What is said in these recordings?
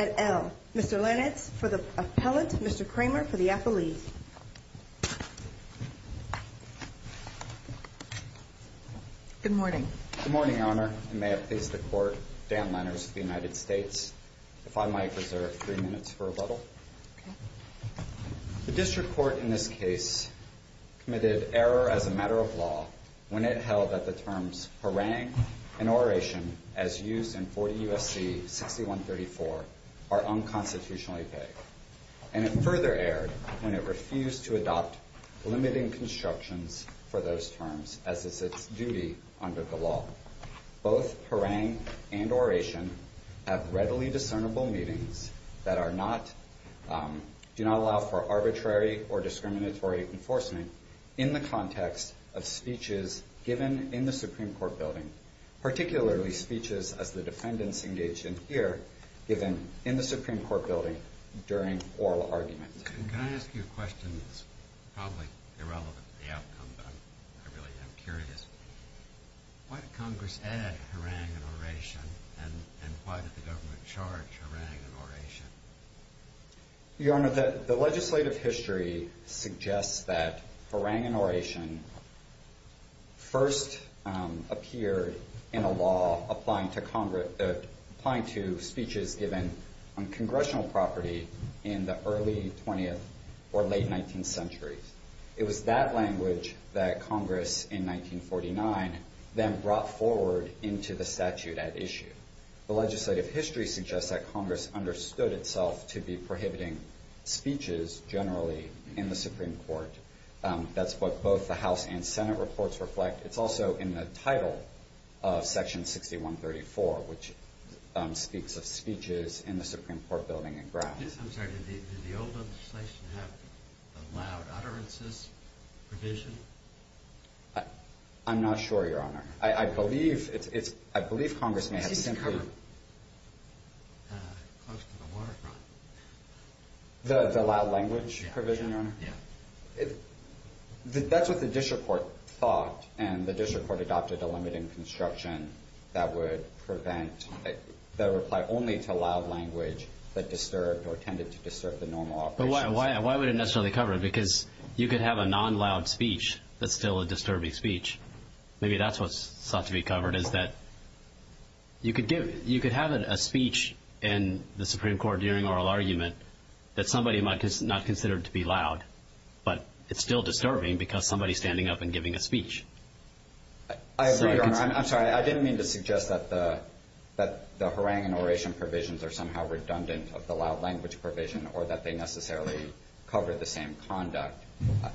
at L. Mr. Lennertz for the appellant, Mr. Kramer for the appellee. Good morning. Good morning, Your Honor. I'm Dan Lennertz of the United States. If I might reserve three minutes for rebuttal. Okay. The district court in this case has decided error as a matter of law when it held that the terms harangue and oration, as used in 40 U.S.C. 6134, are unconstitutionally vague. And it further erred when it refused to adopt limiting constructions for those terms, as it's its duty under the law. Both harangue and oration have readily discernible meanings that do not allow for arbitrary or discriminatory enforcement in the context of speeches given in the Supreme Court building, particularly speeches, as the defendants engaged in here, given in the Supreme Court building during oral arguments. Can I ask you a question that's probably irrelevant to the outcome, but I really am curious. Why did Congress add harangue and oration, and why did the government charge harangue and oration? Your Honor, the legislative history suggests that harangue and oration first appeared in a law applying to speeches given on congressional property in the early 20th or late 19th centuries. It was that language that Congress, in 1949, then brought forward into the statute at issue. The legislative history suggests that Congress understood itself to be prohibiting speeches, generally, in the Supreme Court. That's what both the House and Senate reports reflect. It's also in the title of Section 6134, which speaks of speeches in the Supreme Court building and grounds. I'm sorry. Did the old legislation have allowed utterances provision? I'm not sure, Your Honor. I believe Congress may have simply covered. Close to the waterfront. The loud language provision, Your Honor? Yeah. That's what the district court thought, and the district court adopted a limit in construction that would prevent, that would apply only to loud language that disturbed or tended to disturb the normal operations. But why would it necessarily cover it? Because you could have a non-loud speech that's still a disturbing speech. Maybe that's what's sought to be covered, is that you could give, you could have a speech in the Supreme Court during oral argument that somebody might not consider to be loud, but it's still disturbing because somebody's standing up and giving a speech. I agree, Your Honor. I'm sorry. I didn't mean to suggest that the harangue and oration provisions are somehow redundant of the loud language provision, or that they necessarily cover the same conduct.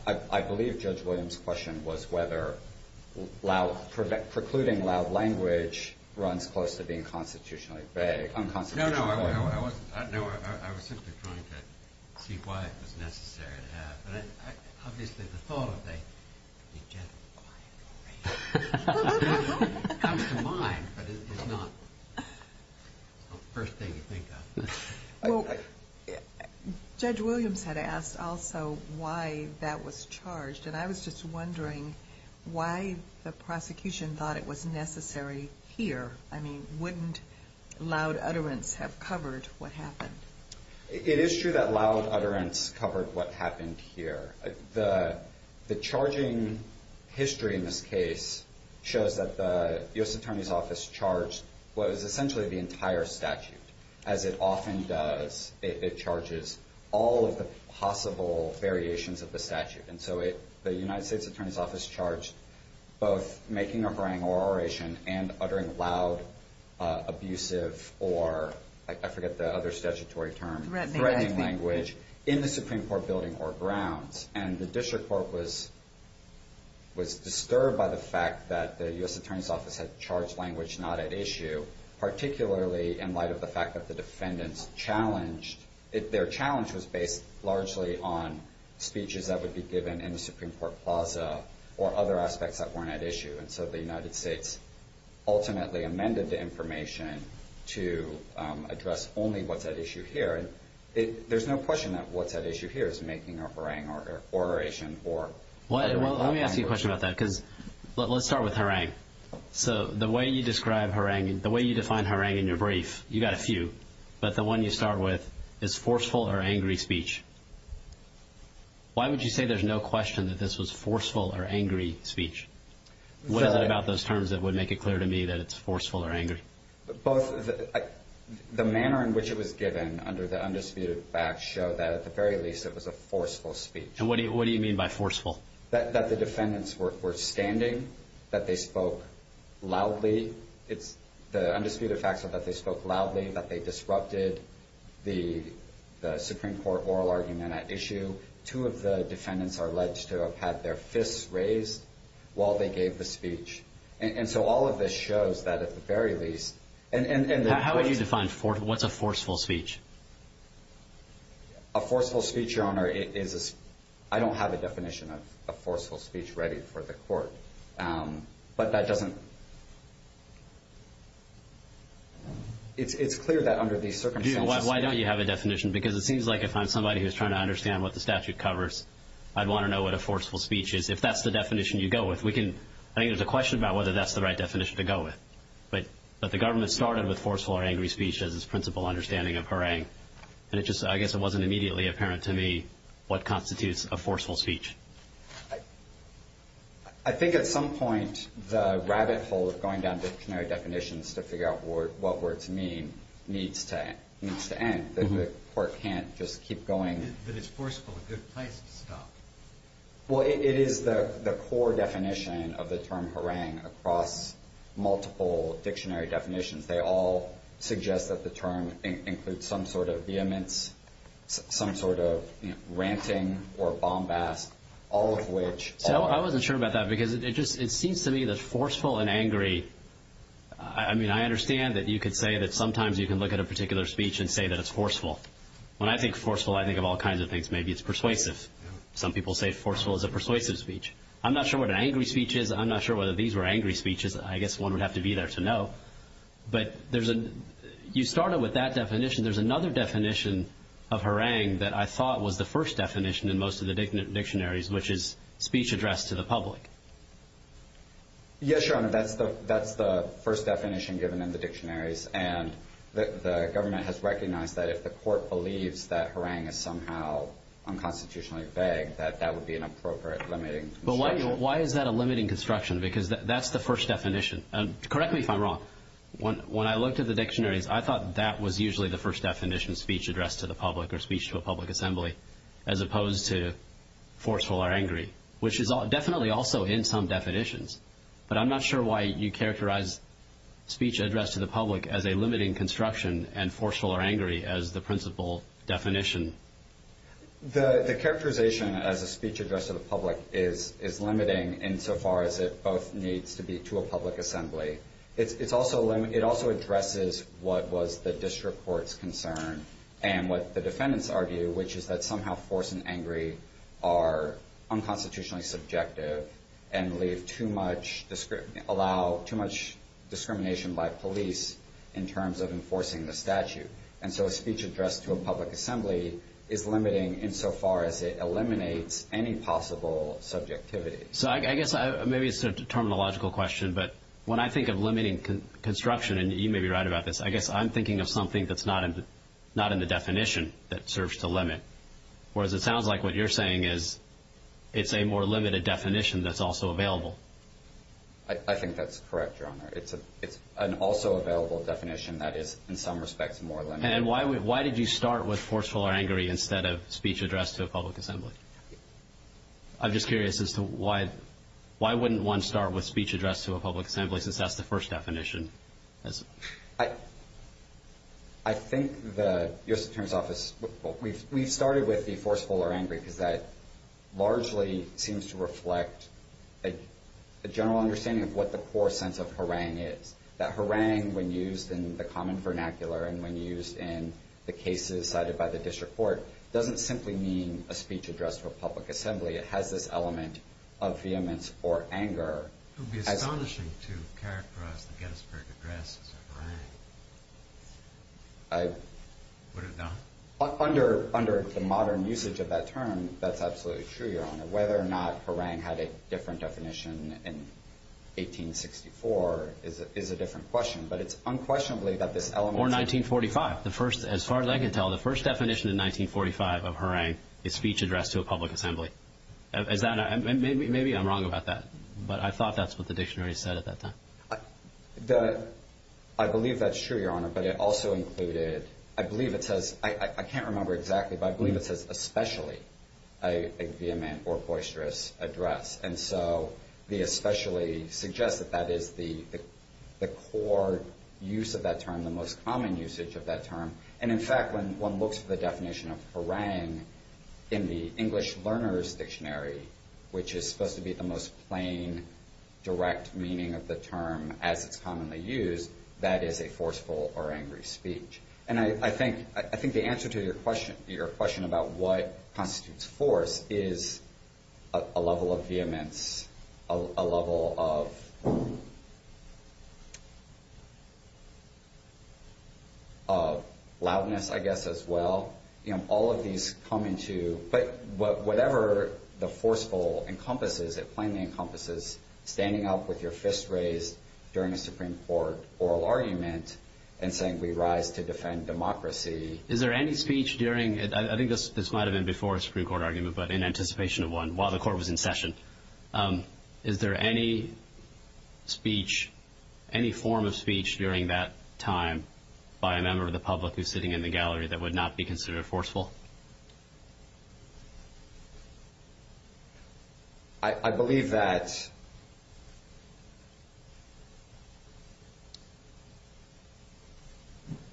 I believe Judge Williams' question was whether loud, precluding loud language runs close to being constitutionally vague, unconstitutionally vague. No, no. I wasn't, no, I was simply trying to see why it was necessary to have, but I, obviously the thought of a, you get a quiet oration. It comes to mind, but it's not the first thing you think of. Well, Judge Williams had asked also why that was charged, and I was just wondering why the prosecution thought it was necessary here. I mean, wouldn't loud utterance have covered what happened? It is true that loud utterance covered what happened here. The, the charging history in this case shows that the U.S. Attorney's Office charged what is essentially the entire statute, as it often does. It charges all of the possible variations of the statute. And so it, the United States Attorney's Office charged both making a harangue or oration and uttering loud abusive or, I forget the other statutory term, threatening language in the Supreme Court building or grounds. And the District Court was, was disturbed by the fact that the U.S. Attorney's Office had charged language not at issue, particularly in light of the fact that the defendants challenged, their challenge was based largely on speeches that would be given in the Supreme Court plaza or other aspects that weren't at issue. And so the United States ultimately amended the information to address only what's at issue here. And there's no question that what's at issue here is making a harangue or oration or. Well, let me ask you a question about that, because let's start with harangue. So the way you describe harangue, the way you define harangue in your brief, you got a few, but the one you start with is forceful or angry speech. Why would you say there's no question that this was forceful or angry speech? What is it about those terms that would make it clear to me that it's forceful or angry? Both. The manner in which it was given under the undisputed facts show that at the very least it was a forceful speech. And what do you mean by forceful? That the defendants were standing, that they spoke loudly. It's the undisputed facts that they spoke loudly, that they disrupted the Supreme Court oral argument at issue. Two of the defendants are alleged to have had their fists raised while they gave the speech. And so all of this shows that at the very least. And how would you define force? What's a forceful speech? A forceful speech, your honor, is I don't have a definition of a forceful speech ready for the court. But that doesn't. It's clear that under these circumstances, why don't you have a definition? Because it seems like if I'm somebody who's trying to understand what the statute covers, I'd want to know what a forceful speech is. If that's the definition you go with, we can. I think there's a question about whether that's the right definition to go with. But but the government started with forceful or angry speech as its principal understanding of harangue. And it just I guess it wasn't immediately apparent to me what constitutes a forceful speech. I think at some point the rabbit hole of going down dictionary definitions to figure out what words mean needs to end. The court can't just keep going. But it's forceful, a good place to stop. Well, it is the core definition of the term harangue across multiple dictionary definitions. They all suggest that the term includes some sort of vehemence, some sort of ranting or bombast, all of which. So I wasn't sure about that because it just it seems to me that forceful and angry. I mean, I understand that you could say that sometimes you can look at a particular speech and say that it's forceful. When I think forceful, I think of all kinds of things. Maybe it's persuasive. Some people say forceful is a persuasive speech. I'm not sure what an angry speech is. I'm not sure whether these were angry speeches. I guess one would have to be there to know. But you started with that definition. There's another definition of harangue that I thought was the first definition in most of the dictionaries, which is speech addressed to the public. Yes, Your Honor, that's the first definition given in the dictionaries. And the government has recognized that if the court believes that harangue is somehow unconstitutionally vague, that that would be an appropriate limiting construction. Because that's the first definition. Correct me if I'm wrong. When I looked at the dictionaries, I thought that was usually the first definition speech addressed to the public or speech to a public assembly as opposed to forceful or angry, which is definitely also in some definitions. But I'm not sure why you characterize speech addressed to the public as a limiting construction and forceful or angry as the principal definition. The characterization as a speech addressed to the public is limiting insofar as it both needs to be to a public assembly. It also addresses what was the district court's concern and what the defendants argue, which is that somehow force and angry are unconstitutionally subjective and allow too much discrimination by police in terms of enforcing the statute. And so a speech addressed to a public assembly is limiting insofar as it eliminates any possible subjectivity. So I guess maybe it's a terminological question, but when I think of limiting construction and you may be right about this, I guess I'm thinking of something that's not not in the definition that serves to limit. Whereas it sounds like what you're saying is it's a more limited definition that's also available. I think that's correct, Your Honor. It's an also available definition that is in some respects more limited. And why did you start with forceful or angry instead of speech addressed to a public assembly? I'm just curious as to why wouldn't one start with speech addressed to a public assembly since that's the first definition? I think the U.S. Attorney's Office, we've started with the forceful or angry because that largely seems to reflect a general understanding of what the core sense of harangue is. That harangue, when used in the common vernacular and when used in the cases cited by the district court, doesn't simply mean a speech addressed to a public assembly. It has this element of vehemence or anger. It would be astonishing to characterize the Gettysburg Address as a harangue. Would it not? Under the modern usage of that term, that's absolutely true, Your Honor. Whether or not harangue had a different definition in 1864 is a different question, but it's unquestionably that this element... Or 1945. As far as I can tell, the first definition in 1945 of harangue is speech addressed to a public assembly. Maybe I'm wrong about that, but I thought that's what the dictionary said at that time. I believe that's true, Your Honor, but it also included... I believe it says... I can't remember exactly, but I believe it says especially a vehement or boisterous address. And so the especially suggests that that is the core use of that term, the most common usage of that term. And in fact, when one looks for the definition of harangue in the English Learner's Dictionary, which is supposed to be the most plain, direct meaning of the term as it's commonly used, that is a forceful or angry speech. And I think the answer to your question about what constitutes force is a level of vehemence, a level of loudness, I guess, as well. All of these come into... But whatever the forceful encompasses, it plainly encompasses standing up with your fist raised during a Supreme Court oral argument and saying, we rise to defend democracy. Is there any speech during... I think this might have been before a Supreme Court argument, but in anticipation of one while the court was in session. Is there any speech, any form of speech during that time by a member of the public who's sitting in the gallery that would not be considered forceful? I believe that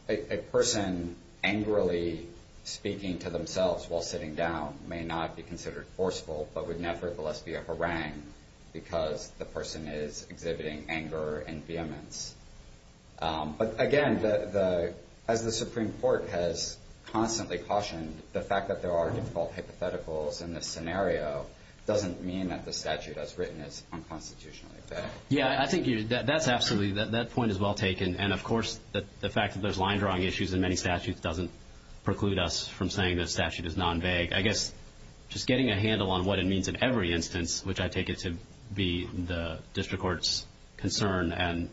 a person angrily speaking to themselves while sitting down may not be considered forceful, but would nevertheless be a harangue because the person is exhibiting anger and vehemence. But again, as the Supreme Court has constantly cautioned, the fact that there are difficult hypotheticals in this scenario doesn't mean that the statute as written is unconstitutionally valid. Yeah, I think that's absolutely... That point is well taken. And of course, the fact that there's line drawing issues in many statutes doesn't preclude us from saying that statute is non-vague. I guess just getting a handle on what it means in every instance, which I take it to be the district court's concern and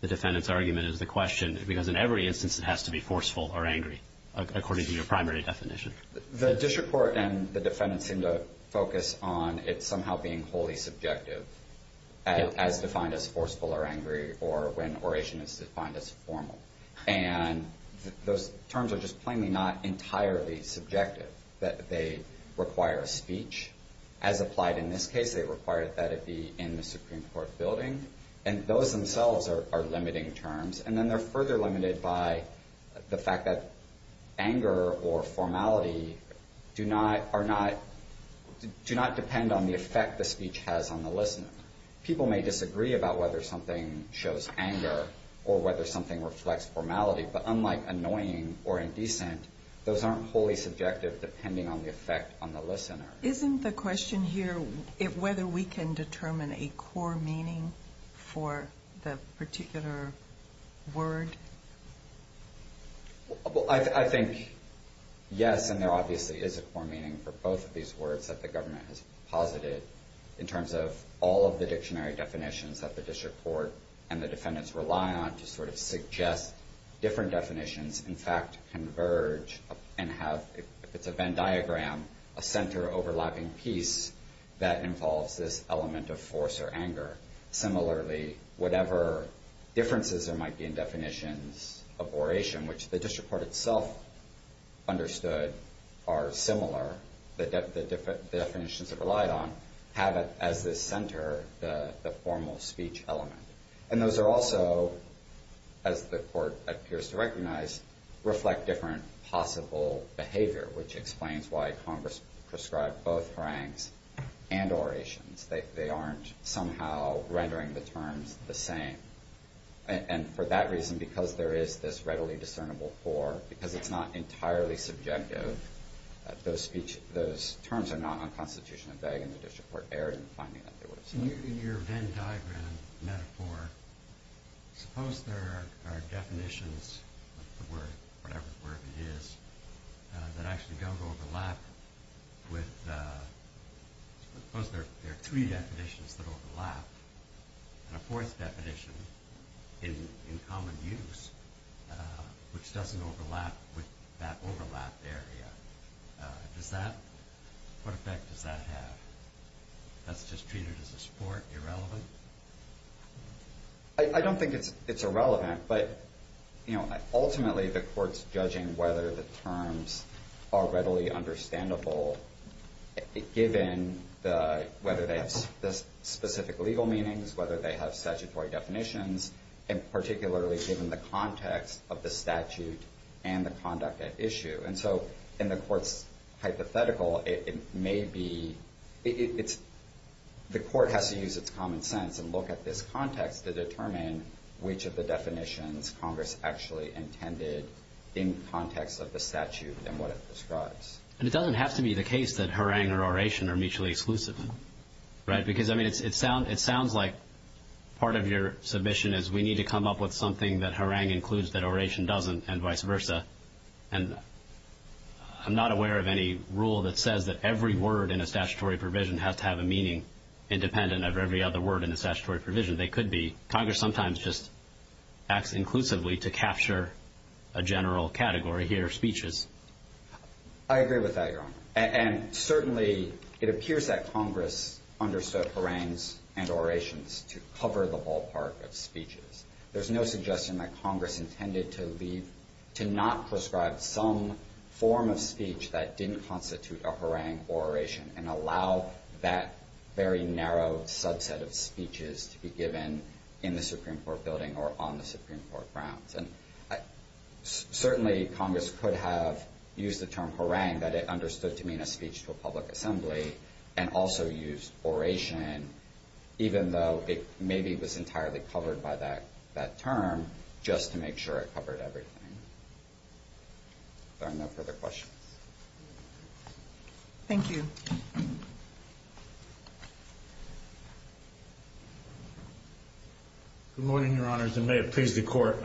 the defendant's argument is the question, because in every instance it has to be forceful or angry according to your primary definition. The district court and the defendant seem to focus on it somehow being wholly subjective as defined as forceful or angry or when oration is defined as formal. And those terms are just required that it be in the Supreme Court building. And those themselves are limiting terms. And then they're further limited by the fact that anger or formality do not depend on the effect the speech has on the listener. People may disagree about whether something shows anger or whether something reflects formality. But unlike annoying or indecent, those aren't wholly subjective depending on the effect on the listener. Isn't the question here whether we can determine a core meaning for the particular word? Well, I think yes, and there obviously is a core meaning for both of these words that the government has posited in terms of all of the dictionary definitions that the district court and the defendants rely on to sort of suggest different diagrams, a center overlapping piece that involves this element of force or anger. Similarly, whatever differences there might be in definitions of oration, which the district court itself understood are similar, the definitions it relied on have it as this center, the formal speech element. And those are also, as the court appears to recognize, reflect different possible behavior, which explains why Congress prescribed both harangues and orations. They aren't somehow rendering the terms the same. And for that reason, because there is this readily discernible core, because it's not entirely subjective, those terms are not unconstitutionally vague and the district court erred in finding that they were. In your Venn diagram metaphor, suppose there are definitions of the word, whatever the word is, that actually don't overlap with, suppose there are three definitions that overlap and a fourth definition in common use, which doesn't overlap with that overlap area. Does that, what effect does that have? That's just treated as a sport, irrelevant? I don't think it's irrelevant, but ultimately the court's judging whether the terms are readily understandable, given whether they have specific legal meanings, whether they have statutory definitions, and particularly given the context of the statute and the conduct at issue. In the court's hypothetical, the court has to use its common sense and look at this context to determine which of the definitions Congress actually intended in context of the statute and what it prescribes. And it doesn't have to be the case that harangue or oration are mutually exclusive, right? Because it sounds like part of your submission is we need to come up with something that harangue includes, that oration doesn't, and vice versa. And I'm not aware of any rule that says that every word in a statutory provision has to have a meaning independent of every other word in a statutory provision. They could be. Congress sometimes just acts inclusively to capture a general category here, speeches. I agree with that, Your Honor. And certainly it appears that Congress understood harangues and orations to cover the ballpark of speeches. There's no suggestion that Congress intended to leave, to not prescribe some form of speech that didn't constitute a harangue or oration and allow that very narrow subset of speeches to be given in the Supreme Court building or on the Supreme Court grounds. And certainly Congress could have used the term that it understood to mean a speech to a public assembly and also used oration, even though it maybe was entirely covered by that term, just to make sure it covered everything. There are no further questions. Thank you. Good morning, Your Honors, and may it please the Court.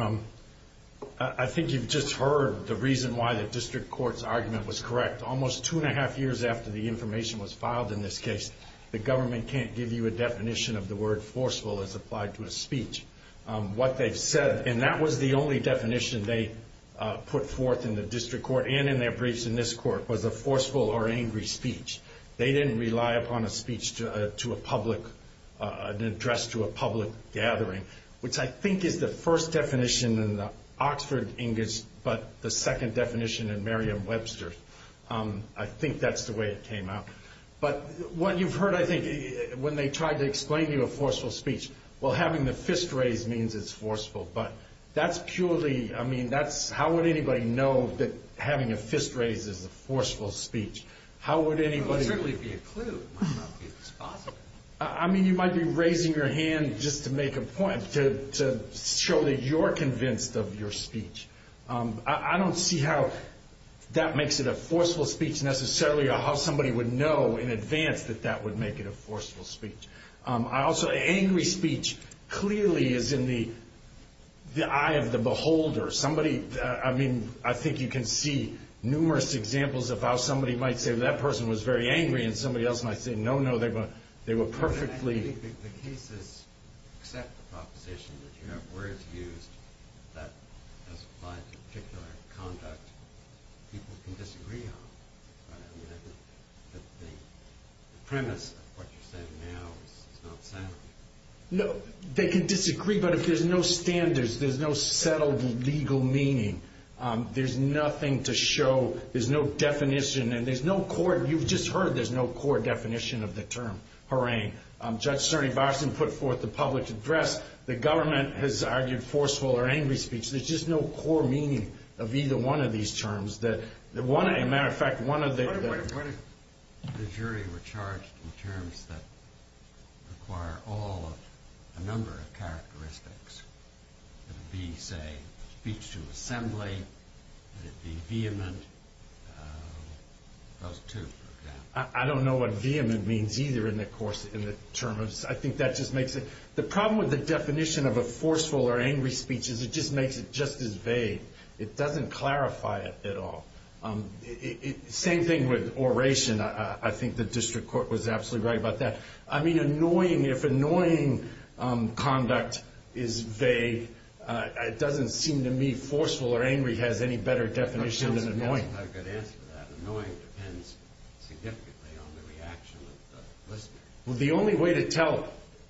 I think you've just heard the reason why district court's argument was correct. Almost two and a half years after the information was filed in this case, the government can't give you a definition of the word forceful as applied to a speech. What they've said, and that was the only definition they put forth in the district court and in their briefs in this court, was a forceful or angry speech. They didn't rely upon a speech to a public, an address to a public gathering, which I think is the first definition in the Oxford English, but the second definition in Merriam-Webster. I think that's the way it came out. But what you've heard, I think, when they tried to explain to you a forceful speech, well, having the fist raised means it's forceful, but that's purely, I mean, that's, how would anybody know that having a fist raised is a forceful speech? How would anybody? It would certainly be a clue. I mean, you might be raising your hand just to make a point, to show that you're convinced of your speech. I don't see how that makes it a forceful speech, necessarily, or how somebody would know in advance that that would make it a forceful speech. I also, angry speech clearly is in the eye of the beholder. Somebody, I mean, I think you can see numerous examples of how somebody might say, that person was very angry, and somebody else might say, no, no, they were perfectly... The cases accept the proposition that you have words used that apply to particular conduct people can disagree on. I mean, I think that the premise of what you're saying now is not sound. No, they can disagree, but if there's no standards, there's no settled legal meaning, there's nothing to show, there's no definition, and there's no core, you've just heard there's no core definition of the term, harangue. Judge Cerny Barson put forth the public address, the government has argued forceful or angry speech, there's just no core meaning of either one of these terms. Matter of fact, one of the... Wait a minute, what if the jury were charged in terms that require all of a number of characteristics? It would be, say, speech to a jury. I don't know what vehement means either in the term of... I think that just makes it... The problem with the definition of a forceful or angry speech is it just makes it just as vague. It doesn't clarify it at all. Same thing with oration, I think the district court was absolutely right about that. I mean, annoying, if annoying conduct is vague, it doesn't seem to me forceful or angry has any better definition than annoying. That's not a good answer to that. Annoying depends significantly on the reaction of the listener. Well, the only way to tell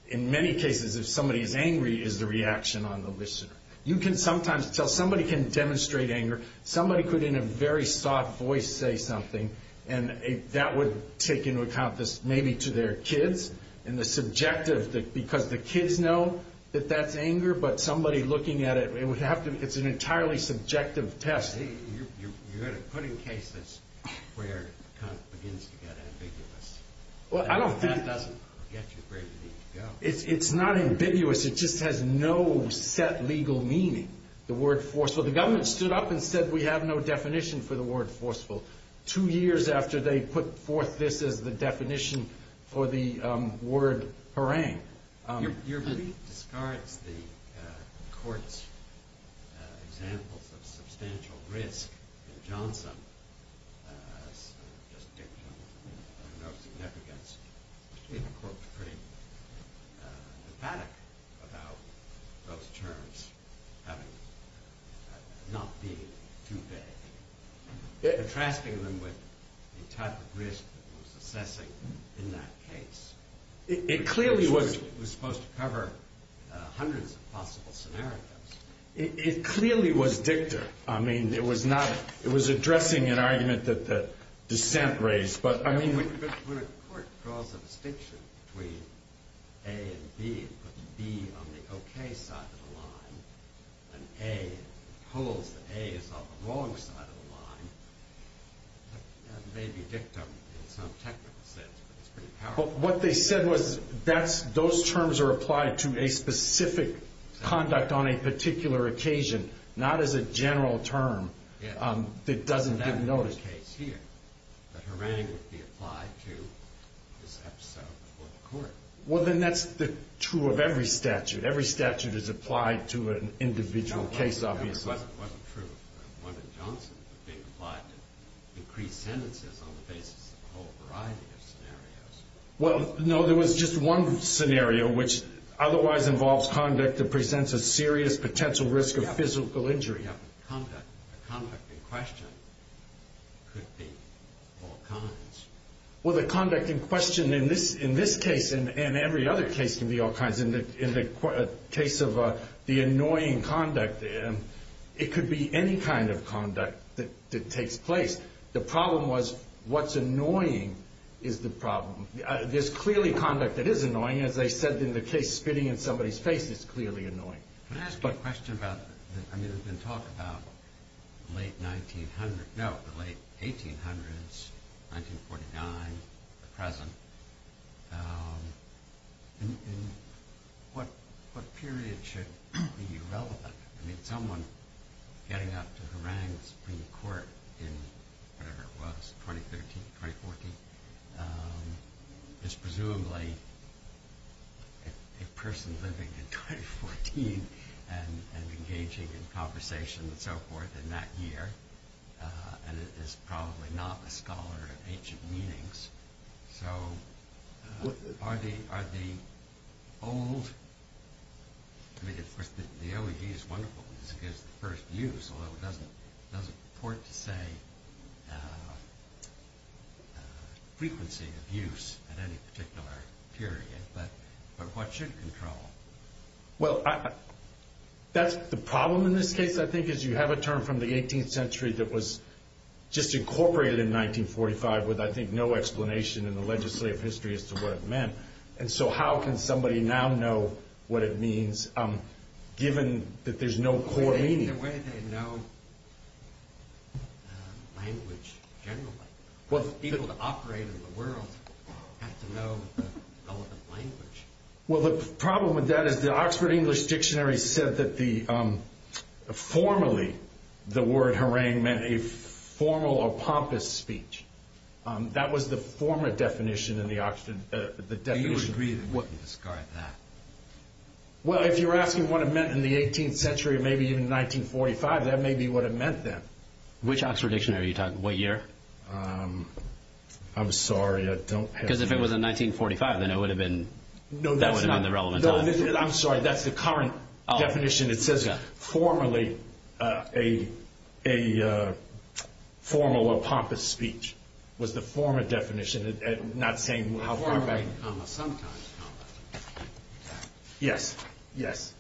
in many cases if somebody is angry is the reaction on the listener. You can sometimes tell, somebody can demonstrate anger, somebody could in a very soft voice say something, and that would take into account this, maybe to their kids, and the subjective, because the kids know that that's anger, but somebody looking at it, it would have to... It's an entirely subjective test. You're going to put in cases where it kind of begins to get ambiguous. Well, I don't think... And that doesn't get you where you need to go. It's not ambiguous, it just has no set legal meaning, the word forceful. The government stood up and said, we have no definition for the word forceful, two years after they put forth this as the definition for the word harangue. Your belief discards the court's examples of substantial risk in Johnson, just dictum of no significance. It's pretty emphatic about those terms not being too vague, contrasting them with the type of risk that was assessing in that case. It clearly was supposed to cover hundreds of possible scenarios. It clearly was dictum. It was addressing an argument that the dissent raised, but I mean... When a court draws a distinction between A and B, put the B on the okay side of the line, and A holds that A is on the wrong side of the line, that may be dictum in some technical sense, but it's pretty powerful. What they said was, those terms are applied to a specific conduct on a particular occasion, not as a general term that doesn't give notice. In that case here, the harangue would be applied to this episode before the court. Well, then that's true of every statute. Every statute is applied to an individual case, obviously. It wasn't true. One in Johnson would be applied to increased sentences on the basis of a whole variety of scenarios. Well, no, there was just one scenario, which otherwise involves conduct that presents a serious potential risk of physical injury. Yeah, but the conduct in question could be all kinds. Well, the conduct in question in this case and every other case can be all kinds. In the case of the annoying conduct, it could be any kind of conduct that takes place. The problem was, what's annoying is the problem. There's clearly conduct that is annoying, as they said in the case, spitting in somebody's face is clearly annoying. Can I ask a question about, I mean, we've been talking about the late 1800s, 1949, the present. What period should be relevant? I mean, someone getting up to harangue Supreme Court in whatever it was, 2013, 2014, is presumably a person living in 2014 and engaging in conversation and so forth in that year, and it is probably not a scholar of ancient meanings. So are the old, I mean, of course, the OED is wonderful because it gives the first use, although it doesn't report to say frequency of use at any particular period, but what should control? Well, that's the problem in this case, I think, is you have a term from the 18th century that was just incorporated in 1945 with, I think, no explanation in the legislative history as to what it meant, and so how can somebody now know what it means, given that there's no core meaning? Either way, they know language generally. People that operate in the world have to know the relevant language. Well, the problem with that is the Oxford English Dictionary said that formally, the formal or pompous speech, that was the former definition in the Oxford, the definition. Do you agree that we can discard that? Well, if you're asking what it meant in the 18th century or maybe even 1945, that may be what it meant then. Which Oxford dictionary are you talking, what year? I'm sorry, I don't have. Because if it was in 1945, then it would have been, that would have been the relevant time. I'm sorry, that's the current definition. It says formally, a formal or pompous speech was the former definition, not saying how far back. Formerly, comma, sometimes, comma. Yes, yes.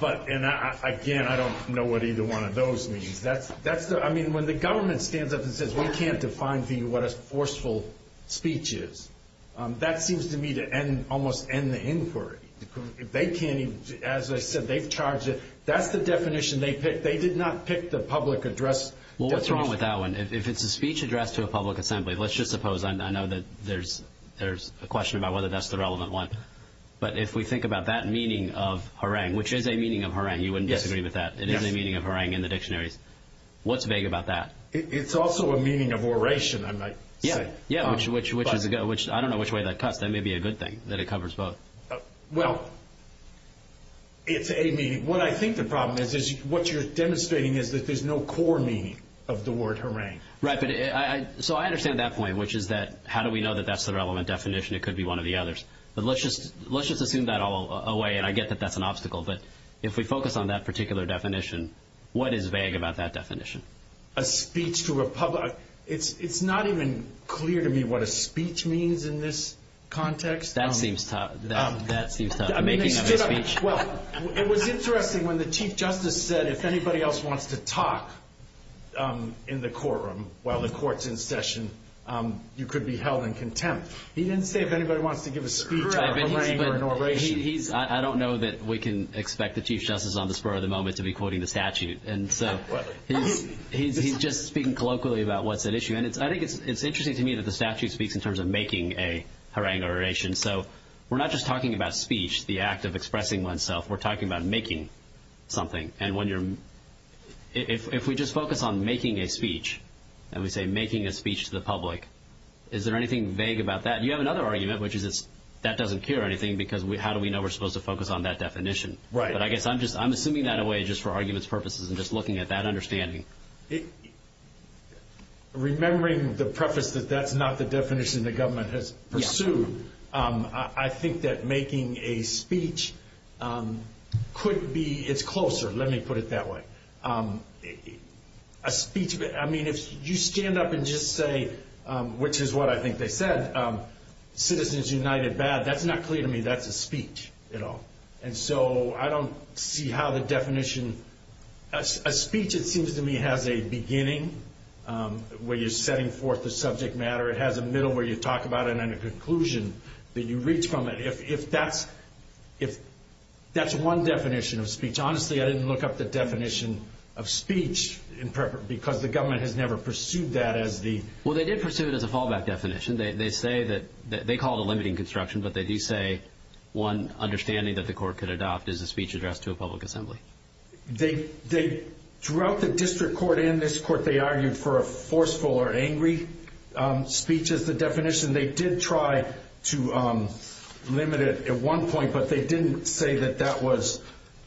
But again, I don't know what either one of those means. I mean, when the government stands up and says, we can't define for you what a forceful speech is, that seems to me to almost end the inquiry. They can't, as I said, they've charged it. That's the definition they picked. They did not pick the public address. Well, what's wrong with that one? If it's a speech addressed to a public assembly, let's just suppose, I know that there's a question about whether that's the relevant one. But if we think about that meaning of harangue, which is a meaning of harangue, you wouldn't disagree with that. It is a meaning of harangue in the dictionaries. What's vague about that? It's also a meaning of oration, I might say. Yeah, which is, I don't know which way that cuts. That may be a good thing, that it covers both. Well, it's a meaning. What I think the problem is, is what you're demonstrating is that there's no core meaning of the word harangue. Right. So I understand that point, which is that, how do we know that that's the relevant definition? It could be one of the others. But let's just assume that all away. And I get that that's an obstacle. But if we focus on that particular definition, what is vague about that definition? A speech to a public. It's not even clear to me what a speech means in this context. That seems tough. That seems tough. Well, it was interesting when the Chief Justice said, if anybody else wants to talk in the courtroom while the court's in session, you could be held in contempt. He didn't say if anybody wants to give a speech or a harangue or an oration. I don't know that we can expect the Chief Justice on the spur of the moment to be quoting the statute. And so he's just speaking colloquially about what's at issue. And I think it's interesting to me that the statute speaks in terms of making a harangue oration. So we're not just talking about speech, the act of expressing oneself. We're talking about making something. And if we just focus on making a speech and we say making a speech to the public, is there anything vague about that? You have another argument, which is that doesn't care anything, because how do we know we're supposed to focus on that definition? Right. I'm assuming that away just for arguments purposes and just looking at that understanding. Remembering the preface that that's not the definition the government has pursued, I think that making a speech could be, it's closer. Let me put it that way. I mean, if you stand up and just say, which is what I think they said, citizens united bad, that's not clear to me. That's a speech. And so I don't see how the definition, a speech, it seems to me, has a beginning where you're setting forth the subject matter. It has a middle where you talk about it and a conclusion that you reach from it. If that's one definition of speech, honestly, I didn't look up the definition of speech because the government has never pursued that as the. Well, they did pursue it as a fallback definition. They say that they call it a limiting construction, but they do say one understanding that the court could adopt is a speech addressed to a public assembly. They they throughout the district court in this court, they argued for a forceful or angry speech as the definition. They did try to limit it at one point, but they didn't say that that was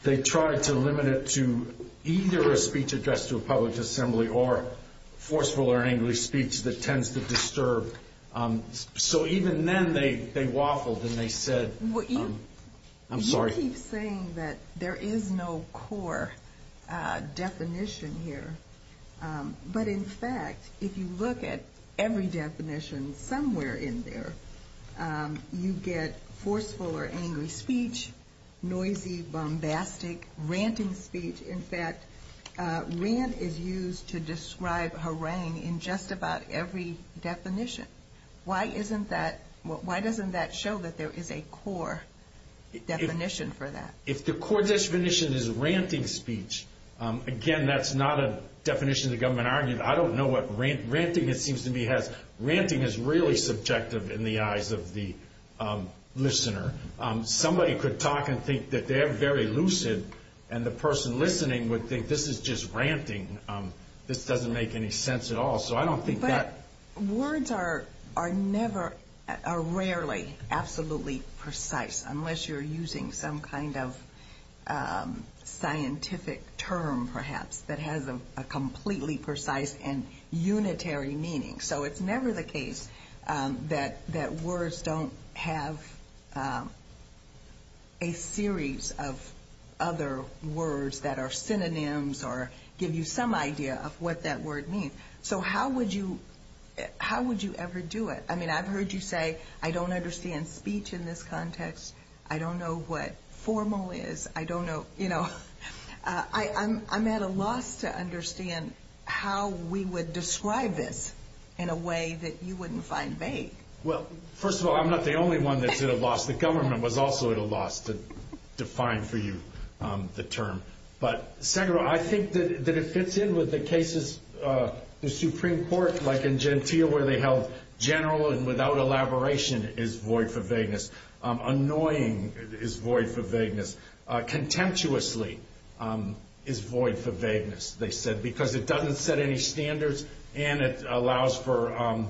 they tried to limit it to either a speech addressed to a public assembly or forceful or angry speech that tends to disturb. So even then they they waffled and they said, I'm sorry, saying that there is no core definition here. But in fact, if you look at every definition somewhere in there, you get forceful or angry speech, noisy, bombastic, ranting speech. In fact, rant is used to describe harangue in just about every definition. Why isn't that? Why doesn't that show that there is a core definition for that? If the core definition is ranting speech, again, that's not a definition the government argued. I don't know what ranting it seems to me has. Ranting is really subjective in the eyes of the listener. Somebody could talk and think that they're very lucid and the person listening would think this is just ranting. This doesn't make any sense at all. So I don't think that words are are never are rarely absolutely precise unless you're using some kind of scientific term, perhaps that has a completely precise and unitary meaning. So it's never the case that that words don't have a series of other words that are synonyms or give you some idea of what that word means. So how would you how would you ever do it? I mean, I've heard you say, I don't understand speech in this context. I don't know what formal is. I don't know, you know, I'm at a loss to understand how we would describe this in a way that you wouldn't find vague. Well, first of all, I'm not the only one that's at a loss. The government was also at a loss to define for you the term. But second, I think that it fits in with the cases, the Supreme Court, like in Gentile, where they held general and without elaboration is void for vagueness. Annoying is void for vagueness. Contemptuously is void for vagueness, they said, because it doesn't set any standards and it allows for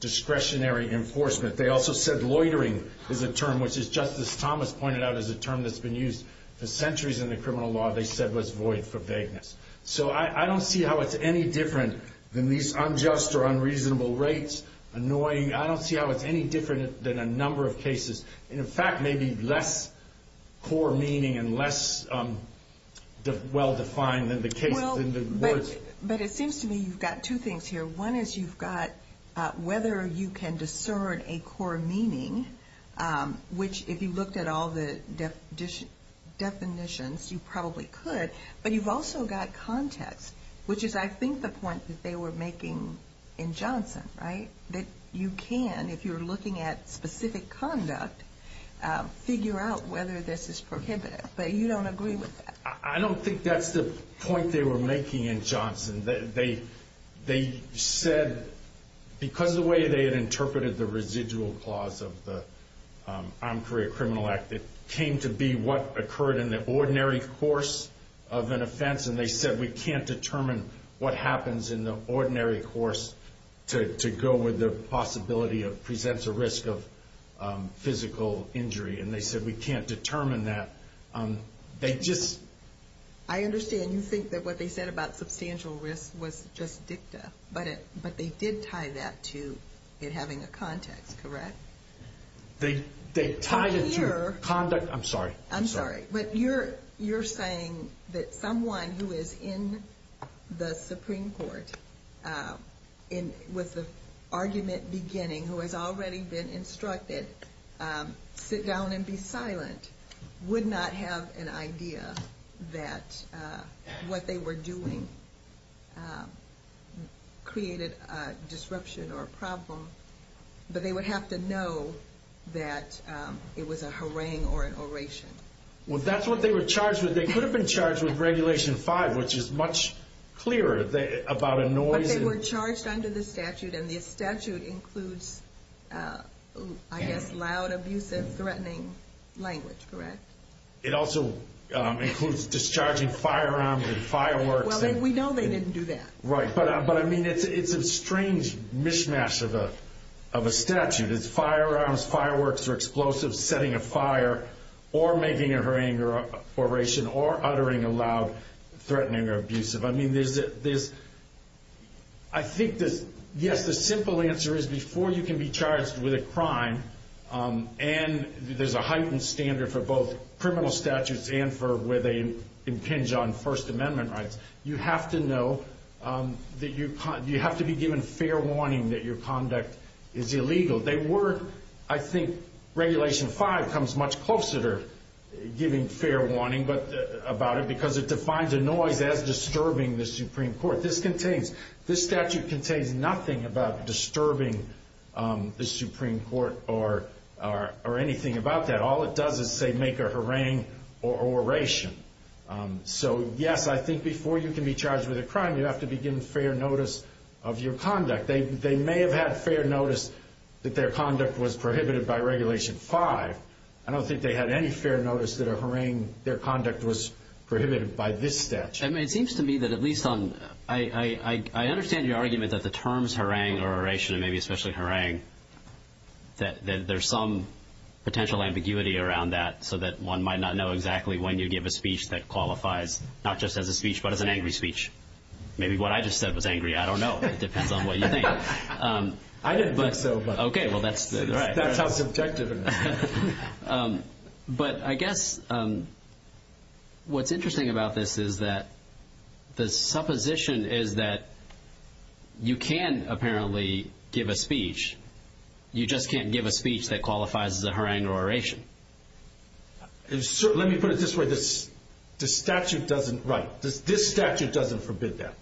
discretionary enforcement. They also said loitering is a term, which is just as Thomas pointed out, is a term that's been used for centuries in the criminal law, they said was void for vagueness. So I don't see how it's any different than these unjust or unreasonable rates. Annoying, I don't see how it's any different than a number of cases. And in fact, maybe less core meaning and less well-defined than the case, than the words. But it seems to me you've got two things here. One is you've got whether you can discern a core meaning, which if you looked at all the definitions, you probably could. But you've also got context, which is, I think, the point that they were making in Johnson, they said because of the way they had interpreted the residual clause of the Armed Career Criminal Act, it came to be what occurred in the ordinary course of an offense. And they said we can't determine what happens in the ordinary course to go with the possibility of presents a risk of physical injury. And they said we can't determine that. They just... I understand. You think that what they said about substantial risk was just dicta. But they did tie that to it having a context, correct? They tied it to conduct. I'm sorry. I'm sorry. But you're saying that someone who is in the Supreme Court with the argument beginning, who has already been instructed, sit down and be silent, would not have an idea that what they were doing created a disruption or a problem. But they would have to know that it was a harangue or an oration. Well, that's what they were charged with. They could have been charged with Regulation 5, which is much clearer about a noise. They were charged under the statute. And the statute includes, I guess, loud, abusive, threatening language, correct? It also includes discharging firearms and fireworks. Well, we know they didn't do that. Right. But I mean, it's a strange mishmash of a statute. It's firearms, fireworks or explosives, setting a fire, or making a harangue or oration, or uttering a loud, threatening or abusive. There's, I think, yes, the simple answer is before you can be charged with a crime, and there's a heightened standard for both criminal statutes and for where they impinge on First Amendment rights, you have to know that you have to be given fair warning that your conduct is illegal. They were, I think, Regulation 5 comes much closer to giving fair warning about it, because it defines a noise as disturbing the Supreme Court. This contains, this statute contains nothing about disturbing the Supreme Court or anything about that. All it does is, say, make a harangue or oration. So yes, I think before you can be charged with a crime, you have to be given fair notice of your conduct. They may have had fair notice that their conduct was prohibited by Regulation 5. I don't think they had any fair notice that a harangue, their conduct was prohibited by this statute. I mean, it seems to me that at least on, I understand your argument that the terms harangue or oration, and maybe especially harangue, that there's some potential ambiguity around that so that one might not know exactly when you give a speech that qualifies, not just as a speech, but as an angry speech. Maybe what I just said was angry. I don't know. It depends on what you think. I didn't think so. Okay, well, that's right. Um, but I guess, um, what's interesting about this is that the supposition is that you can, apparently, give a speech. You just can't give a speech that qualifies as a harangue or oration. Let me put it this way. This statute doesn't, right, this statute doesn't forbid that.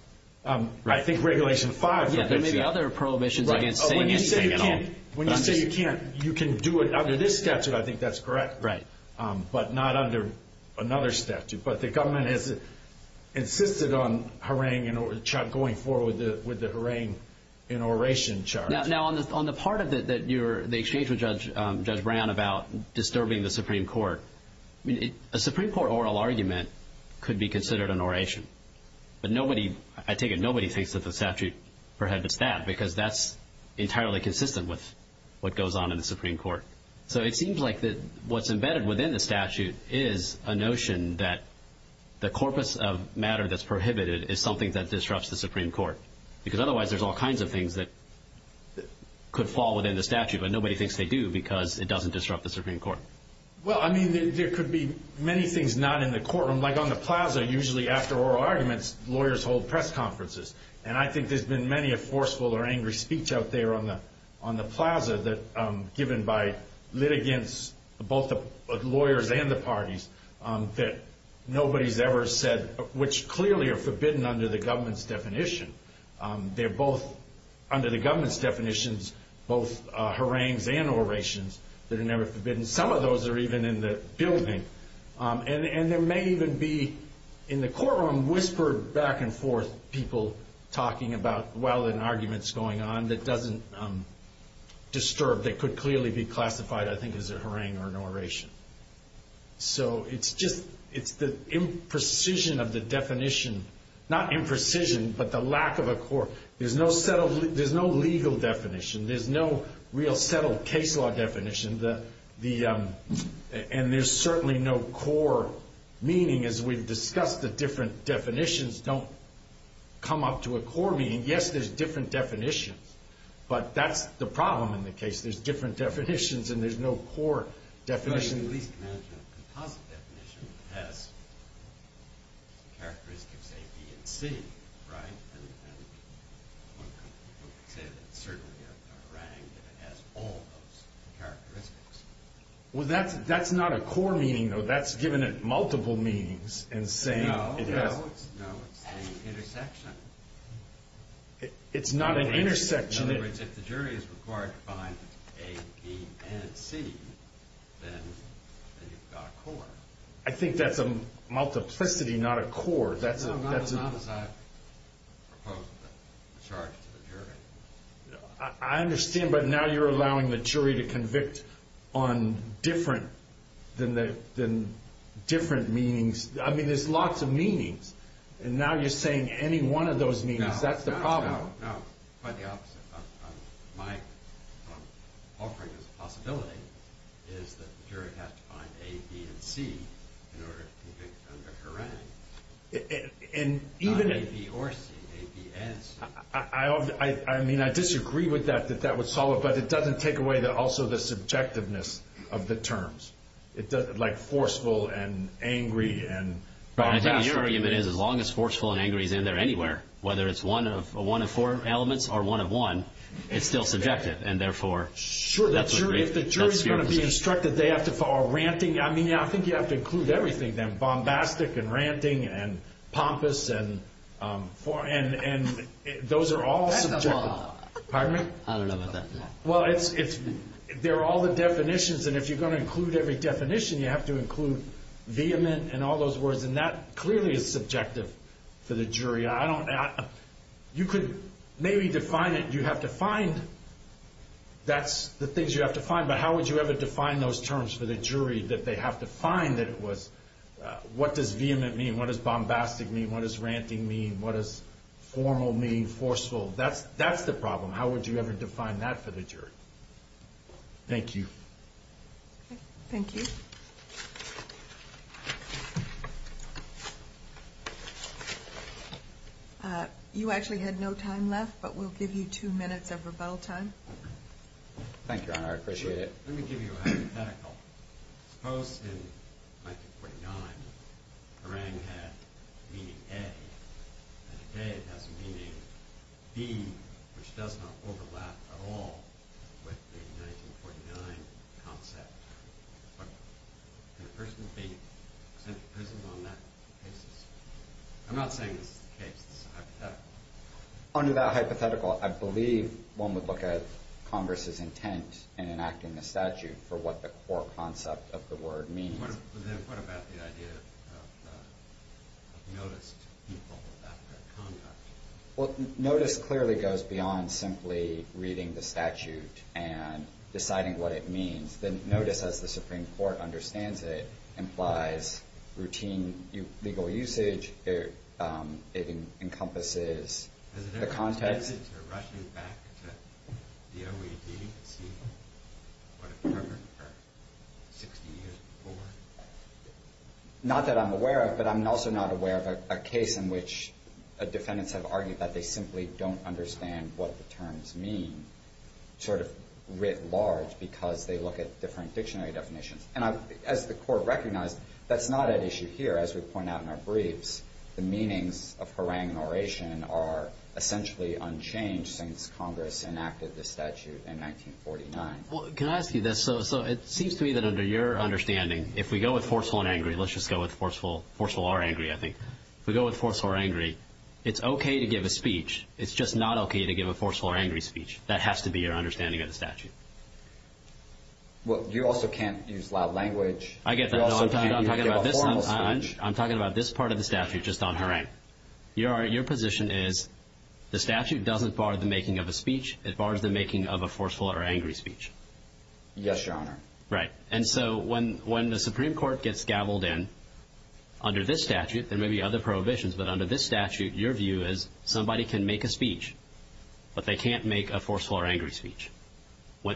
I think Regulation 5. Yeah, there may be other prohibitions against saying anything at all. When you say you can't, you can do it under this statute. I think that's correct. Right. But not under another statute. But the government has insisted on harangue, you know, going forward with the harangue and oration charge. Now, on the part of it that you're, the exchange with Judge Brown about disturbing the Supreme Court, I mean, a Supreme Court oral argument could be considered an oration. But nobody, I take it nobody thinks that the statute prohibits that because that's entirely consistent with what goes on in the Supreme Court. So it seems like that what's embedded within the statute is a notion that the corpus of matter that's prohibited is something that disrupts the Supreme Court, because otherwise there's all kinds of things that could fall within the statute, but nobody thinks they do because it doesn't disrupt the Supreme Court. Well, I mean, there could be many things not in the courtroom, like on the plaza, usually after oral arguments, lawyers hold press conferences. And I think there's been many a forceful or angry speech out there on the plaza that given by litigants, both the lawyers and the parties, that nobody's ever said, which clearly are forbidden under the government's definition. They're both under the government's definitions, both harangues and orations that are never forbidden. Some of those are even in the building. And there may even be, in the courtroom, whispered back and forth people talking about, well, an argument's going on that doesn't disturb, that could clearly be classified, I think, as a harangue or an oration. So it's the imprecision of the definition, not imprecision, but the lack of a court. There's no legal definition. There's no real settled case law definition. And there's certainly no core meaning. As we've discussed, the different definitions don't come up to a core meaning. Yes, there's different definitions. But that's the problem in the case. There's different definitions, and there's no core definition. Well, that's not a core meaning, though. That's given it multiple meanings. It's not an intersection. In other words, if the jury is required to find A, B, and C, then you've got a core. I think that's a multiplicity, not a core. No, not as I've proposed the charge to the jury. I understand. But now you're allowing the jury to convict on different meanings. I mean, there's lots of meanings. And now you're saying any one of those meanings. That's the problem. No, quite the opposite. My offering as a possibility is that the jury has to find A, B, and C in order to convict under Harang, not A, B, or C, A, B, and C. I mean, I disagree with that, that that would solve it. But it doesn't take away also the subjectiveness of the terms, like forceful and angry. I think your argument is as long as forceful and angry is in there anywhere, whether it's one of four elements or one of one, it's still subjective. And therefore, that's what the jury has to do. Sure, if the jury is going to be instructed, they have to follow ranting. I mean, I think you have to include everything then, bombastic, and ranting, and pompous, and those are all subjective. Pardon me? I don't know about that. Well, there are all the definitions. And if you're going to include every definition, you have to include vehement and all those words. And that clearly is subjective for the jury. I don't know. You could maybe define it. You have to find, that's the things you have to find. But how would you ever define those terms for the jury that they have to find that it was, what does vehement mean? What does bombastic mean? What does ranting mean? What does formal mean, forceful? That's the problem. How would you ever define that for the jury? Thank you. Thank you. You actually had no time left, but we'll give you two minutes of rebuttal time. Thank you, Your Honor. I appreciate it. Let me give you a hypothetical. Suppose in 1949, harangue had the meaning A, and today it has the meaning B, which does not overlap at all with the 1949 concept. But can a person be sent to prison on that basis? I'm not saying this is the case. It's hypothetical. Under that hypothetical, I believe one would look at Congress's intent in enacting the statute for what the core concept of the word means. What about the idea of notice to people after a conduct? Well, notice clearly goes beyond simply reading the statute and deciding what it means. Notice, as the Supreme Court understands it, implies routine legal usage. It encompasses the context. Has there been a tendency to rush you back to the OED and see what it covered for 60 years before? Not that I'm aware of, but I'm also not aware of a case in which defendants have argued that they simply don't understand what the terms mean, sort of writ large, because they look at different dictionary definitions. And as the court recognized, that's not an issue here. As we point out in our briefs, the meanings of harangue and oration are essentially unchanged since Congress enacted the statute in 1949. Well, can I ask you this? So it seems to me that under your understanding, if we go with forceful and angry, let's just go with forceful or angry, I think. If we go with forceful or angry, it's okay to give a speech. It's just not okay to give a forceful or angry speech. That has to be your understanding of the statute. Well, you also can't use loud language. I get that. I'm talking about this part of the statute, just on harangue. Your position is the statute doesn't bar the making of a speech. It bars the making of a forceful or angry speech. Yes, Your Honor. Right. And so when the Supreme Court gets gaveled in under this statute, there may be other prohibitions, but under this statute, your view is somebody can make a speech, but they can't make a forceful or angry speech.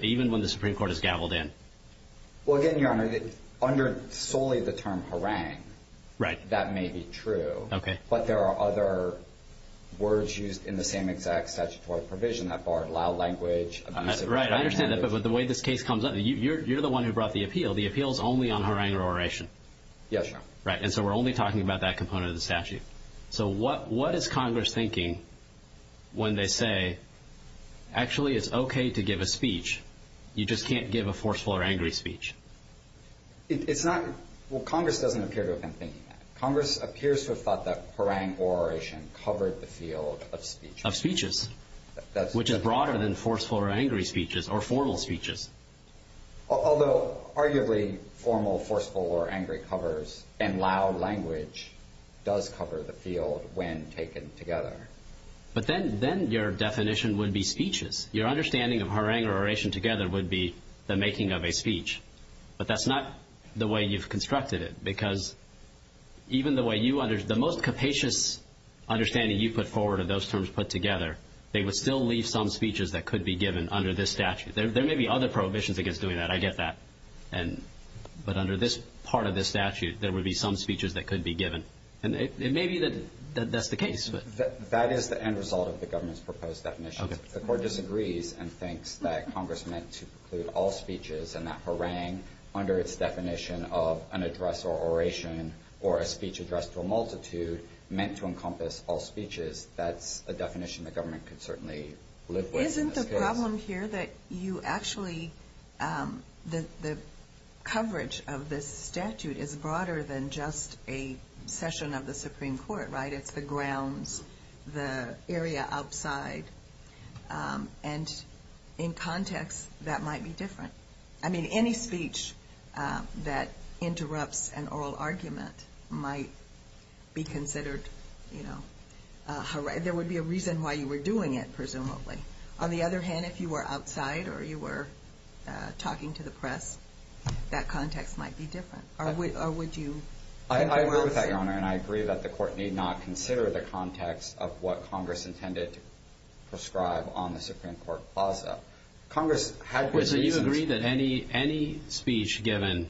Even when the Supreme Court is gaveled in. Well, again, Your Honor, under solely the term harangue, that may be true, but there are other words used in the same exact statutory provision that bar loud language. Right. I understand that, but the way this case comes up, you're the one who brought the appeal. The appeal is only on harangue or oration. Yes, Your Honor. Right. And so we're only talking about that component of the statute. So what is Congress thinking when they say, actually, it's okay to give a speech. You just can't give a forceful or angry speech. It's not. Well, Congress doesn't appear to have been thinking that. Congress appears to have thought that harangue or oration covered the field of speech. Of speeches, which is broader than forceful or angry speeches or formal speeches. Although arguably formal forceful or angry covers and loud language does cover the field when taken together. But then your definition would be speeches. Your understanding of harangue or oration together would be the making of a speech. But that's not the way you've constructed it. Because even the most capacious understanding you put forward of those terms put together, they would still leave some speeches that could be given under this statute. There may be other prohibitions against doing that. I get that. But under this part of this statute, there would be some speeches that could be given. And it may be that that's the case. That is the end result of the government's proposed definition. The court disagrees and thinks that Congress meant to preclude all speeches and that harangue under its definition of an address or oration or a speech addressed to a multitude meant to encompass all speeches. That's a definition the government could certainly live with. Isn't the problem here that you actually that the coverage of this statute is broader than just a session of the Supreme Court, right? It's the grounds, the area outside. And in context, that might be different. I mean, any speech that interrupts an oral argument might be considered, you know, there would be a reason why you were doing it, presumably. On the other hand, if you were outside or you were talking to the press, that context might be different. Or would you? I agree with that, Your Honor. And I agree that the court need not consider the context of what Congress intended to prescribe on the Supreme Court plaza. Congress had reasons. So you agree that any speech given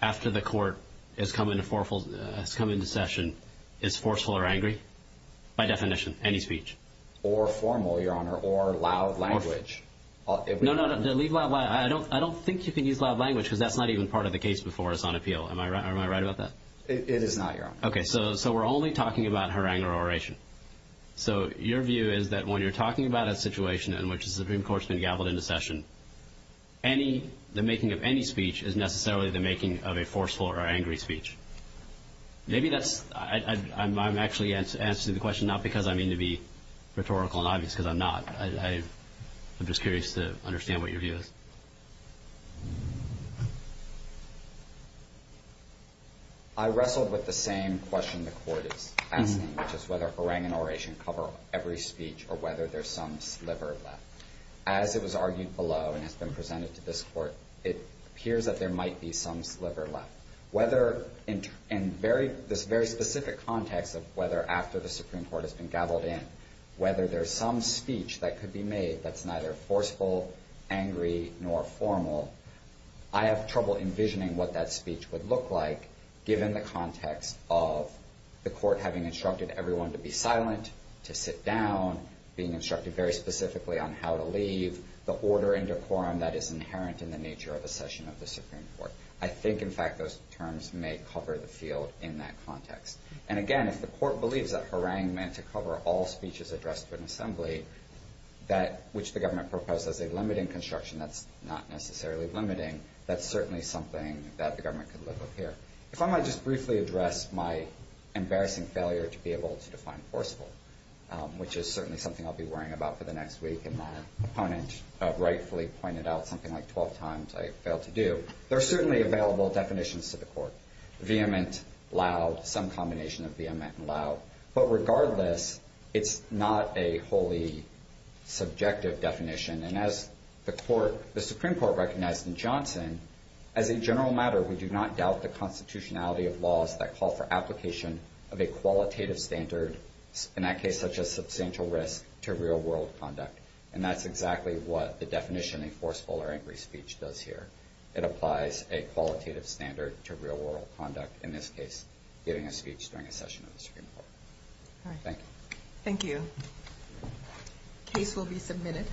after the court has come into session is forceful or angry, by definition, any speech? Or formal, Your Honor. Or loud language. I don't think you can use loud language, because that's not even part of the case before us on appeal. Am I right about that? It is not, Your Honor. OK, so we're only talking about harangular oration. So your view is that when you're talking about a situation in which the Supreme Court's been gaveled into session, the making of any speech is necessarily the making of a forceful or angry speech. Maybe that's, I'm actually answering the question not because I mean to be rhetorical and obvious, because I'm not. I'm just curious to understand what your view is. I wrestled with the same question the court is asking, which is whether harangular oration cover every speech or whether there's some sliver left. As it was argued below and has been presented to this court, it appears that there might be some sliver left. Whether in this very specific context of whether after the Supreme Court has been gaveled in, whether there's some speech that could be made that's neither forceful, angry, nor formal, I have trouble envisioning what that speech would look like, given the context of the court having instructed everyone to be silent, to sit down, being instructed very specifically on how to leave, the order and decorum that is inherent in the nature of a session of the Supreme Court. I think, in fact, those terms may cover the field in that context. And again, if the court believes that harangue meant to cover all speeches addressed to an assembly, which the government proposed as a limiting construction that's not necessarily limiting, that's certainly something that the government could look up here. If I might just briefly address my embarrassing failure to be able to define forceful, which is certainly something I'll be worrying about for the next week and my opponent rightfully pointed out something like 12 times I failed to do, there are certainly available definitions to the court, vehement, loud, some combination of vehement and loud. But regardless, it's not a wholly subjective definition. And as the Supreme Court recognized in Johnson, as a general matter, we do not doubt the constitutionality of laws that call for application of a qualitative standard, in that case, such as substantial risk to real-world conduct. And that's exactly what the definition of a forceful or angry speech does here. It applies a qualitative standard to real-world conduct, in this case, giving a speech during a session of the Supreme Court. All right. Thank you. Thank you. Case will be submitted.